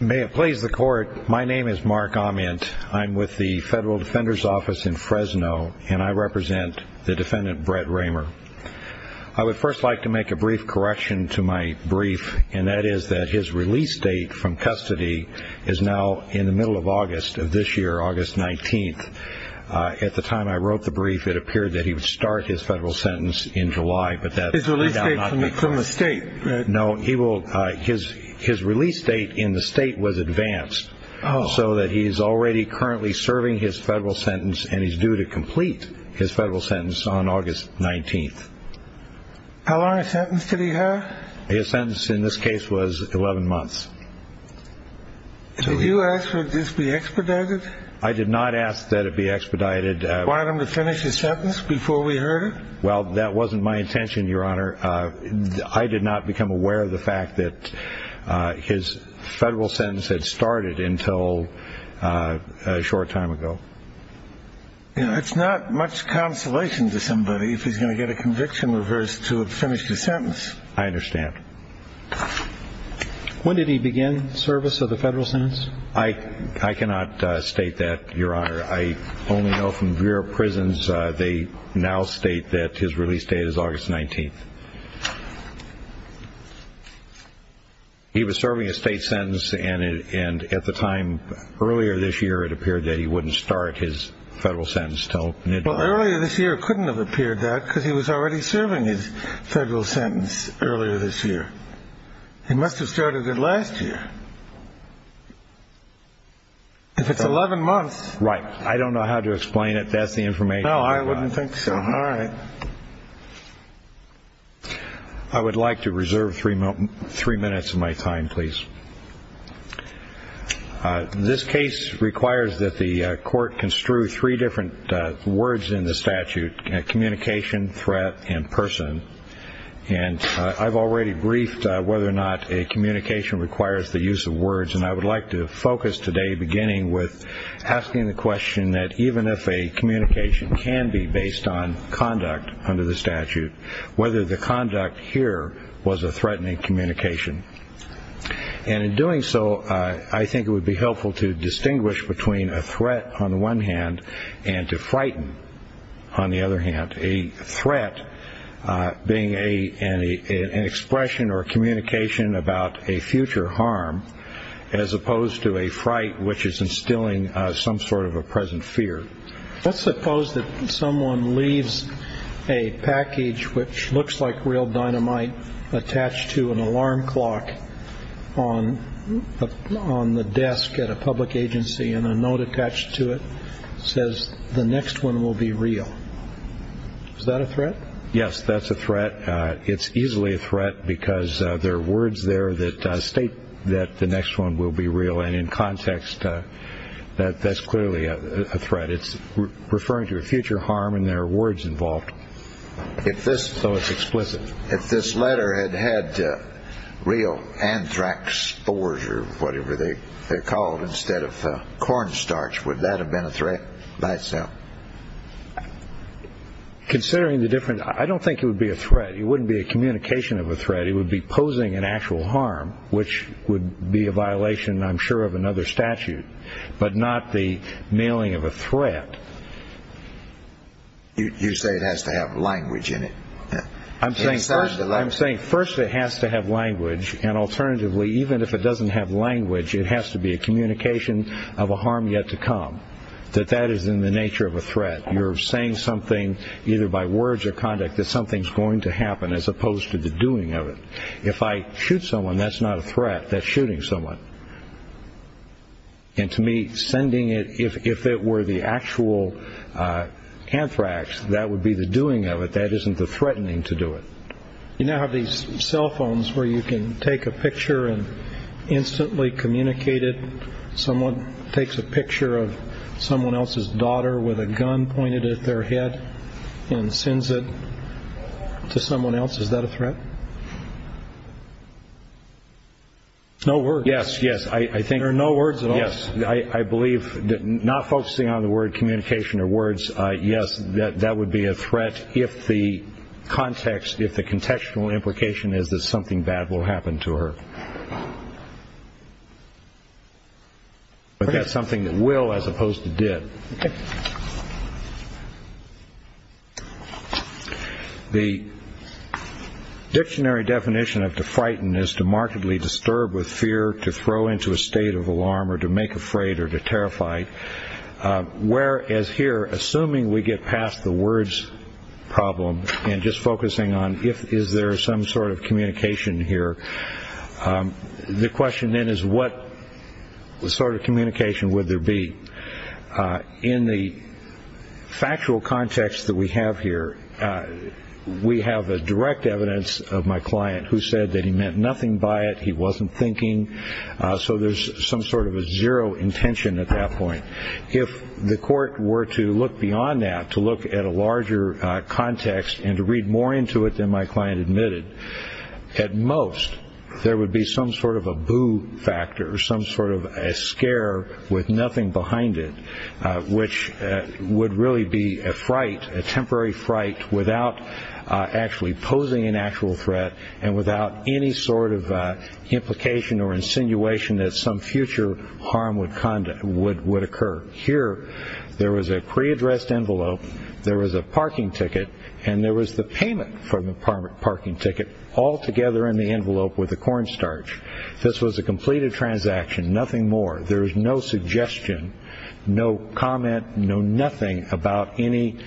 May it please the court, my name is Mark Amant. I'm with the Federal Defender's Office in Fresno, and I represent the defendant, Brett Raymer. I would first like to make a brief correction to my brief, and that is that his release date from custody is now in the middle of August of this year, August 19th. At the time I wrote the brief, it appeared that he would start his federal sentence in July, but that is now not the case. His release date from the state? No, his release date in the state was advanced, so that he's already currently serving his federal sentence, and he's due to complete his federal sentence on August 19th. How long a sentence did he have? His sentence in this case was 11 months. Did you ask for this to be expedited? I did not ask that it be expedited. You wanted him to finish his sentence before we heard it? Well, that wasn't my intention, Your Honor. I did not become aware of the fact that his federal sentence had started until a short time ago. It's not much consolation to somebody if he's going to get a conviction reverse to have finished his sentence. I understand. When did he begin service of the federal sentence? I cannot state that, Your Honor. I only know from your prisons they now state that his release date is August 19th. He was serving a state sentence, and at the time earlier this year it appeared that he wouldn't start his federal sentence until mid-July. Well, earlier this year it couldn't have appeared that because he was already serving his federal sentence earlier this year. He must have started it last year. If it's 11 months. Right. I don't know how to explain it. That's the information. No, I wouldn't think so. All right. I would like to reserve three minutes of my time, please. This case requires that the court construe three different words in the statute, communication, threat and person. And I've already briefed whether or not a communication requires the use of words, and I would like to focus today beginning with asking the question that even if a communication can be based on conduct under the statute, whether the conduct here was a threatening communication. And in doing so, I think it would be helpful to distinguish between a threat on the one hand and to frighten on the other hand. A threat being an expression or a communication about a future harm as opposed to a fright, which is instilling some sort of a present fear. Let's suppose that someone leaves a package which looks like real dynamite attached to an alarm clock on the desk at a public agency and a note attached to it says the next one will be real. Is that a threat? Yes, that's a threat. It's easily a threat because there are words there that state that the next one will be real. And in context, that's clearly a threat. It's referring to a future harm and there are words involved. So it's explicit. If this letter had had real anthrax spores or whatever they're called instead of cornstarch, would that have been a threat by itself? Considering the difference, I don't think it would be a threat. It wouldn't be a communication of a threat. It would be posing an actual harm, which would be a violation, I'm sure, of another statute, but not the mailing of a threat. You say it has to have language in it. I'm saying first it has to have language, and alternatively, even if it doesn't have language, it has to be a communication of a harm yet to come, that that is in the nature of a threat. You're saying something either by words or conduct that something's going to happen as opposed to the doing of it. If I shoot someone, that's not a threat. That's shooting someone. And to me, sending it, if it were the actual anthrax, that would be the doing of it. That isn't the threatening to do it. You now have these cell phones where you can take a picture and instantly communicate it. Someone takes a picture of someone else's daughter with a gun pointed at their head and sends it to someone else. Is that a threat? No words. Yes, yes. There are no words at all. Yes. I believe that not focusing on the word communication or words, yes, that would be a threat if the context, if the contextual implication is that something bad will happen to her. But that's something that will as opposed to did. OK. The dictionary definition of to frighten is to markedly disturb with fear, to throw into a state of alarm or to make afraid or to terrify. Whereas here, assuming we get past the words problem and just focusing on if is there some sort of communication here, the question then is what sort of communication would there be in the factual context that we have here? We have a direct evidence of my client who said that he meant nothing by it. He wasn't thinking. So there's some sort of a zero intention at that point. If the court were to look beyond that, to look at a larger context and to read more into it than my client admitted, at most there would be some sort of a boo factor, some sort of a scare with nothing behind it, which would really be a fright, a temporary fright without actually posing an actual threat and without any sort of implication or insinuation that some future harm would occur. Here, there was a pre-addressed envelope. There was a parking ticket and there was the payment for the parking ticket all together in the envelope with the cornstarch. This was a completed transaction, nothing more. There was no suggestion, no comment, no nothing about any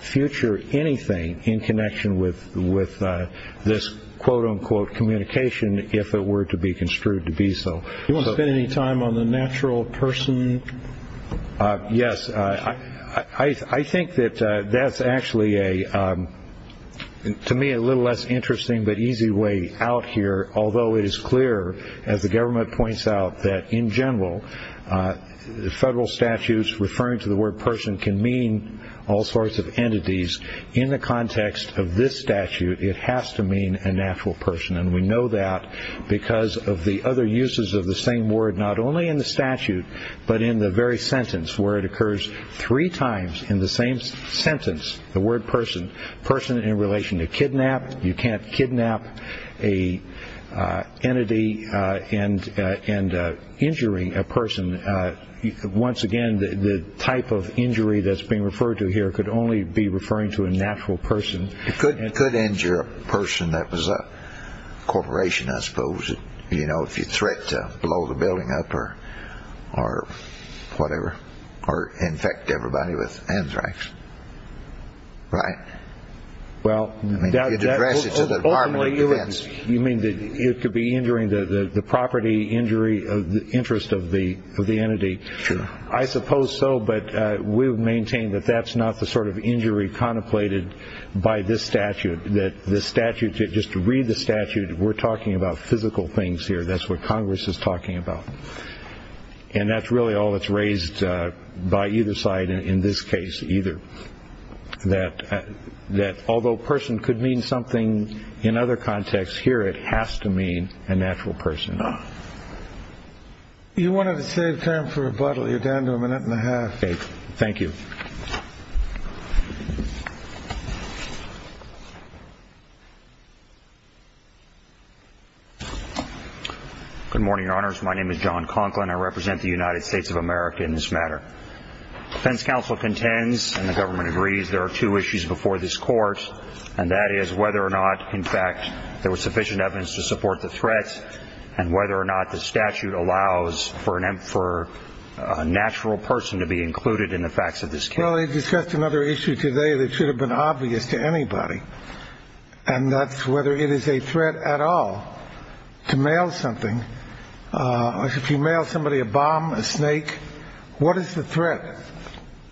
future anything in connection with this quote unquote communication, if it were to be construed to be so. You want to spend any time on the natural person? Yes. I think that that's actually, to me, a little less interesting but easy way out here, although it is clear, as the government points out, that in general, federal statutes referring to the word person can mean all sorts of entities. In the context of this statute, it has to mean a natural person, and we know that because of the other uses of the same word not only in the statute but in the very sentence where it occurs three times in the same sentence, the word person, person in relation to kidnap. You can't kidnap an entity and injury a person. Once again, the type of injury that's being referred to here could only be referring to a natural person. It could injure a person that was a corporation, I suppose, if you threat to blow the building up or whatever, or infect everybody with anthrax, right? Ultimately, you mean that it could be injuring the property, injury, interest of the entity. I suppose so, but we would maintain that that's not the sort of injury contemplated by this statute. Just to read the statute, we're talking about physical things here. That's what Congress is talking about. And that's really all that's raised by either side in this case either, that although person could mean something in other contexts, here it has to mean a natural person. You wanted to save time for rebuttal. You're down to a minute and a half. Thank you. Good morning, Your Honors. My name is John Conklin. I represent the United States of America in this matter. Defense counsel contends, and the government agrees, there are two issues before this court, and that is whether or not, in fact, there was sufficient evidence to support the threat and whether or not the statute allows for a natural person to be included in the facts of this case. Well, they discussed another issue today that should have been obvious to anybody, and that's whether it is a threat at all to mail something. If you mail somebody a bomb, a snake, what is the threat?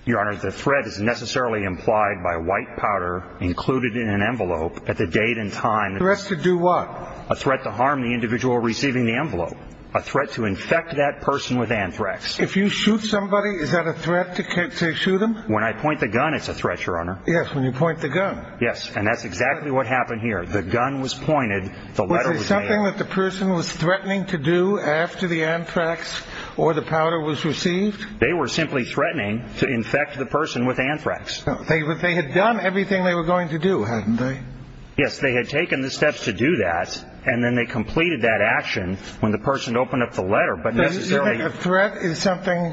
Your Honor, the threat is necessarily implied by white powder included in an envelope at the date and time. Threats to do what? A threat to harm the individual receiving the envelope. A threat to infect that person with anthrax. If you shoot somebody, is that a threat to shoot them? When I point the gun, it's a threat, Your Honor. Yes, when you point the gun. Yes, and that's exactly what happened here. The gun was pointed, the letter was mailed. Was it something that the person was threatening to do after the anthrax or the powder was received? They were simply threatening to infect the person with anthrax. But they had done everything they were going to do, hadn't they? Yes, they had taken the steps to do that, and then they completed that action when the person opened up the letter. So you think a threat is something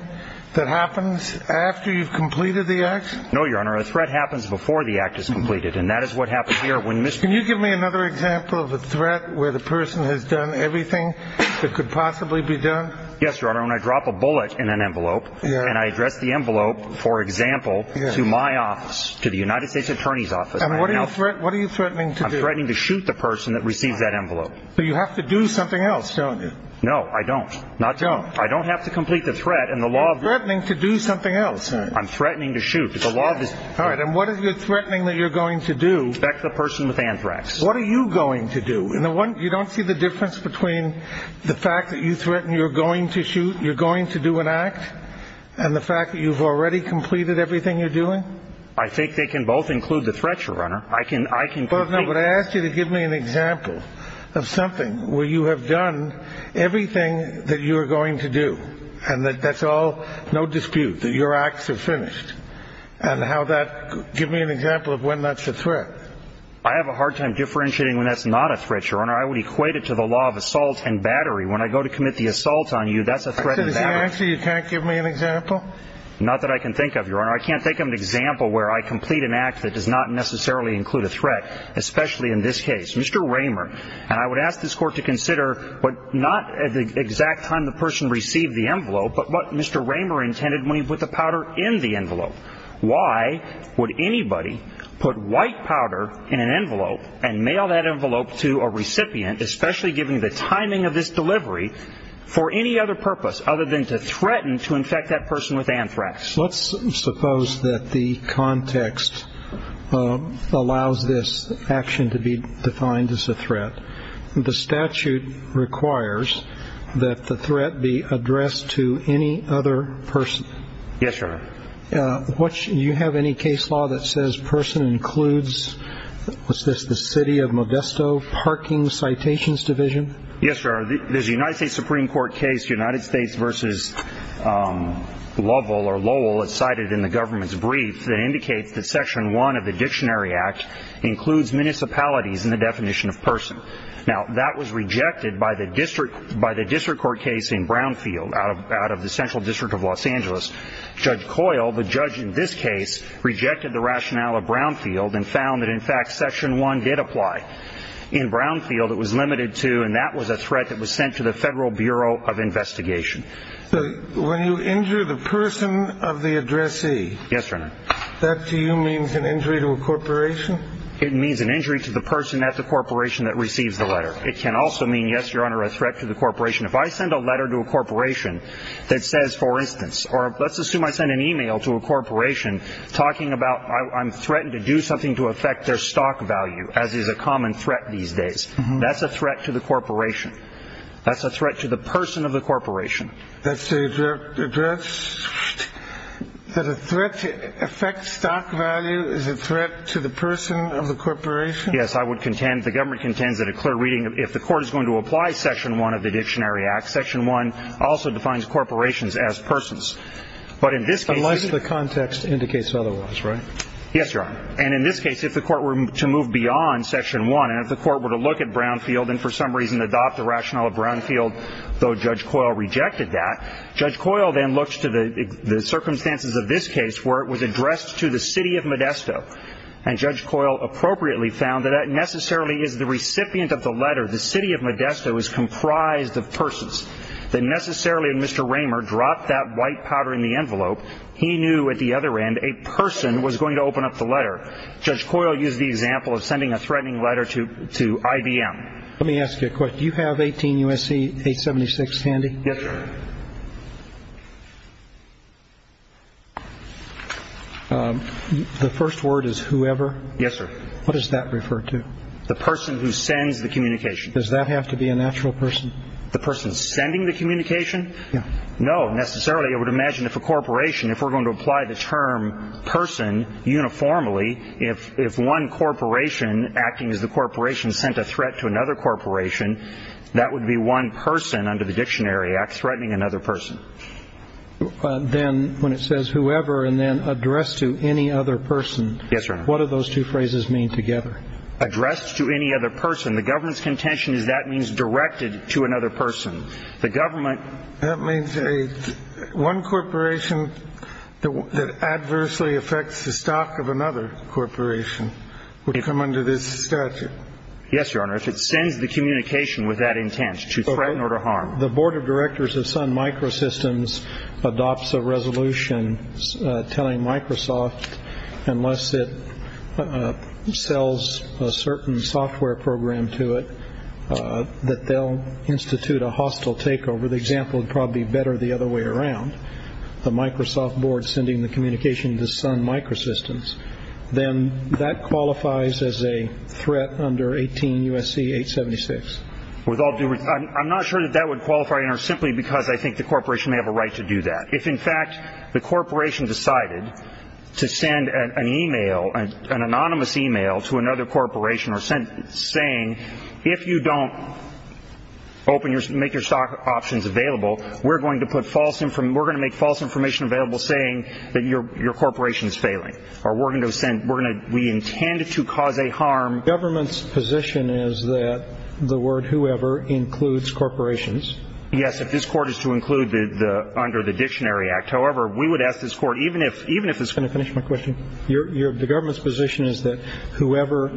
that happens after you've completed the act? No, Your Honor, a threat happens before the act is completed, and that is what happened here. Can you give me another example of a threat where the person has done everything that could possibly be done? Yes, Your Honor, when I drop a bullet in an envelope and I address the envelope, for example, to my office, to the United States Attorney's Office. And what are you threatening to do? I'm threatening to shoot the person that received that envelope. But you have to do something else, don't you? No, I don't. Don't. I don't have to complete the threat and the law of the world. You're threatening to do something else. I'm threatening to shoot. All right, and what are you threatening that you're going to do? Infect the person with anthrax. What are you going to do? You don't see the difference between the fact that you threaten you're going to shoot, you're going to do an act, and the fact that you've already completed everything you're doing? I think they can both include the threat, Your Honor. I can complete it. No, but I asked you to give me an example of something where you have done everything that you're going to do, and that's all, no dispute, that your acts are finished. And how that, give me an example of when that's a threat. I have a hard time differentiating when that's not a threat, Your Honor. I would equate it to the law of assault and battery. When I go to commit the assault on you, that's a threat and battery. So the answer is you can't give me an example? Not that I can think of, Your Honor. I can't think of an example where I complete an act that does not necessarily include a threat, especially in this case. Mr. Raymer, and I would ask this Court to consider not the exact time the person received the envelope, but what Mr. Raymer intended when he put the powder in the envelope. Why would anybody put white powder in an envelope and mail that envelope to a recipient, especially given the timing of this delivery, for any other purpose other than to threaten to infect that person with anthrax? Let's suppose that the context allows this action to be defined as a threat. The statute requires that the threat be addressed to any other person. Yes, Your Honor. Do you have any case law that says person includes, what's this, the city of Modesto parking citations division? Yes, Your Honor. There's a United States Supreme Court case, United States v. Lovell or Lowell, as cited in the government's brief that indicates that Section 1 of the Dictionary Act includes municipalities in the definition of person. Now, that was rejected by the district court case in Brownfield, out of the Central District of Los Angeles. Judge Coyle, the judge in this case, rejected the rationale of Brownfield and found that, in fact, Section 1 did apply. In Brownfield, it was limited to, and that was a threat that was sent to the Federal Bureau of Investigation. So when you injure the person of the addressee, that to you means an injury to a corporation? It means an injury to the person at the corporation that receives the letter. It can also mean, yes, Your Honor, a threat to the corporation. If I send a letter to a corporation that says, for instance, or let's assume I send an e-mail to a corporation talking about I'm threatened to do something to affect their stock value, as is a common threat these days, that's a threat to the corporation. That's a threat to the person of the corporation. That's the address? That a threat to affect stock value is a threat to the person of the corporation? Yes, I would contend, the government contends that a clear reading, if the court is going to apply Section 1 of the Dictionary Act, Section 1 also defines corporations as persons. But in this case. Unless the context indicates otherwise, right? Yes, Your Honor. And in this case, if the court were to move beyond Section 1 and if the court were to look at Brownfield and for some reason adopt the rationale of Brownfield, though Judge Coyle rejected that, Judge Coyle then looks to the circumstances of this case where it was addressed to the city of Modesto. And Judge Coyle appropriately found that that necessarily is the recipient of the letter. The city of Modesto is comprised of persons. That necessarily when Mr. Raymer dropped that white powder in the envelope, he knew at the other end a person was going to open up the letter. Judge Coyle used the example of sending a threatening letter to IBM. Let me ask you a question. Do you have 18 U.S.C. 876 handy? Yes, sir. The first word is whoever? Yes, sir. What does that refer to? The person who sends the communication. Does that have to be a natural person? The person sending the communication? Yes. No, necessarily. I would imagine if a corporation, if we're going to apply the term person uniformly, if one corporation acting as the corporation sent a threat to another corporation, that would be one person under the Dictionary Act threatening another person. Then when it says whoever and then addressed to any other person. Yes, sir. What do those two phrases mean together? Addressed to any other person. The government's contention is that means directed to another person. That means one corporation that adversely affects the stock of another corporation would come under this statute. Yes, Your Honor. If it sends the communication with that intent to threaten or to harm. The Board of Directors of Sun Microsystems adopts a resolution telling Microsoft, unless it sells a certain software program to it, that they'll institute a hostile takeover. The example would probably be better the other way around. The Microsoft Board sending the communication to Sun Microsystems. Then that qualifies as a threat under 18 U.S.C. 876. I'm not sure that that would qualify, Your Honor, simply because I think the corporation may have a right to do that. If, in fact, the corporation decided to send an e-mail, an anonymous e-mail to another corporation saying, if you don't make your stock options available, we're going to make false information available saying that your corporation is failing. Or we intend to cause a harm. The government's position is that the word whoever includes corporations. Yes, if this court is to include under the Dictionary Act. However, we would ask this court, even if it's going to finish my question. The government's position is that whoever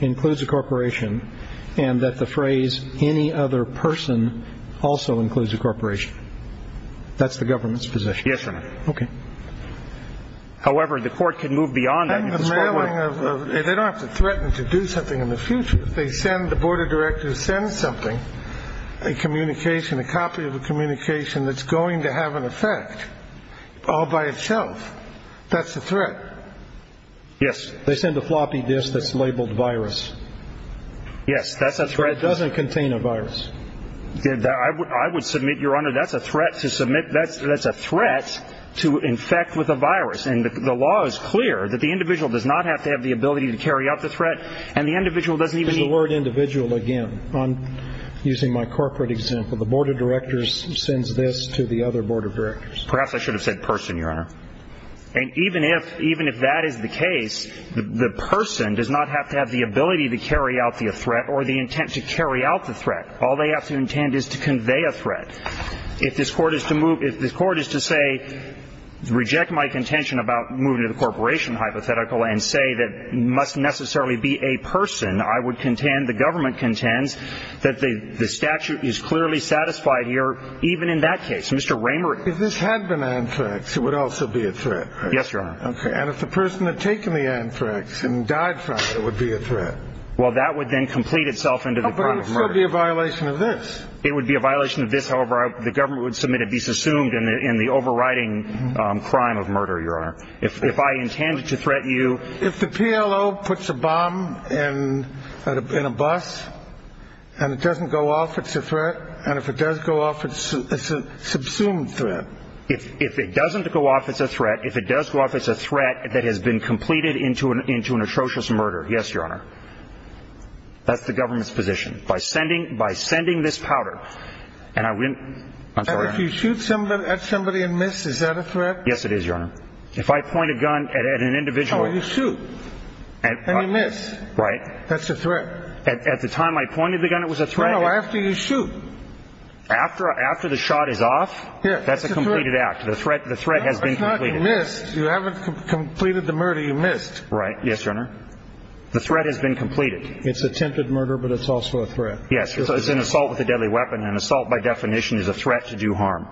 includes a corporation and that the phrase any other person also includes a corporation. That's the government's position. Yes, Your Honor. Okay. However, the court can move beyond that. They don't have to threaten to do something in the future. They send the board of directors send something, a communication, a copy of a communication that's going to have an effect all by itself. That's a threat. Yes. They send a floppy disk that's labeled virus. Yes, that's a threat. But it doesn't contain a virus. I would submit, Your Honor, that's a threat to submit. That's a threat to infect with a virus. And the law is clear that the individual does not have to have the ability to carry out the threat. And the individual doesn't even need. The word individual, again, I'm using my corporate example. The board of directors sends this to the other board of directors. Perhaps I should have said person, Your Honor. And even if that is the case, the person does not have to have the ability to carry out the threat or the intent to carry out the threat. All they have to intend is to convey a threat. If this court is to move, if this court is to say, reject my contention about moving to the corporation hypothetical and say that must necessarily be a person, I would contend, the government contends, that the statute is clearly satisfied here even in that case. Mr. Raymer. If this had been anthrax, it would also be a threat. Yes, Your Honor. Okay. And if the person had taken the anthrax and died from it, it would be a threat. Well, that would then complete itself into the crime of murder. But it would still be a violation of this. It would be a violation of this. However, the government would submit it be subsumed in the overriding crime of murder, Your Honor. If I intended to threat you. If the PLO puts a bomb in a bus and it doesn't go off, it's a threat. And if it does go off, it's a subsumed threat. If it doesn't go off, it's a threat. If it does go off, it's a threat that has been completed into an atrocious murder. Yes, Your Honor. That's the government's position. By sending this powder. And if you shoot at somebody and miss, is that a threat? Yes, it is, Your Honor. If I point a gun at an individual. Oh, you shoot. And you miss. Right. That's a threat. At the time I pointed the gun, it was a threat. No, no, after you shoot. After the shot is off? Yes. That's a completed act. The threat has been completed. It's not you missed. You haven't completed the murder. You missed. Right. Yes, Your Honor. The threat has been completed. It's attempted murder, but it's also a threat. Yes, it's an assault with a deadly weapon. An assault, by definition, is a threat to do harm.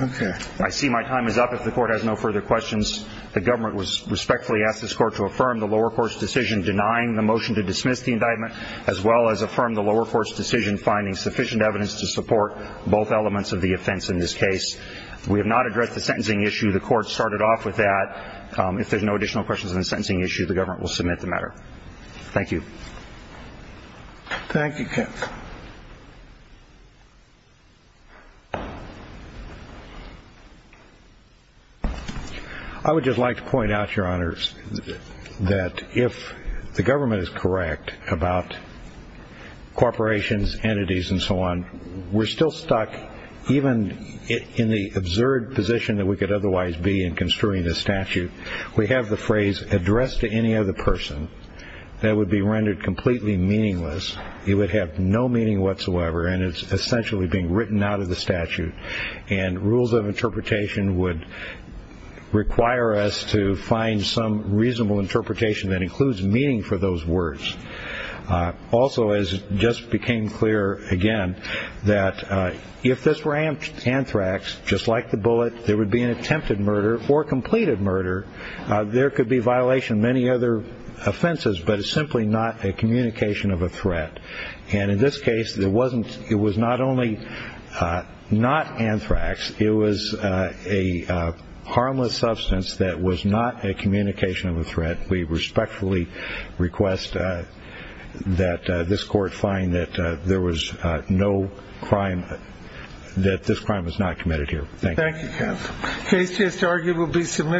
Okay. I see my time is up. If the Court has no further questions, the government respectfully asks this Court to affirm the lower court's decision denying the motion to dismiss the indictment, as well as affirm the lower court's decision finding sufficient evidence to support both elements of the offense in this case. We have not addressed the sentencing issue. The Court started off with that. If there's no additional questions on the sentencing issue, the government will submit the matter. Thank you. Thank you. I would just like to point out, Your Honors, that if the government is correct about corporations, entities, and so on, we're still stuck even in the absurd position that we could otherwise be in construing this statute. We have the phrase addressed to any other person. That would be rendered completely meaningless. It would have no meaning whatsoever, and it's essentially being written out of the statute. And rules of interpretation would require us to find some reasonable interpretation that includes meaning for those words. Also, as just became clear again, that if this were anthrax, just like the bullet, there would be an attempted murder or completed murder. There could be violation of many other offenses, but it's simply not a communication of a threat. And in this case, it was not only not anthrax. It was a harmless substance that was not a communication of a threat. We respectfully request that this Court find that there was no crime, that this crime was not committed here. Thank you.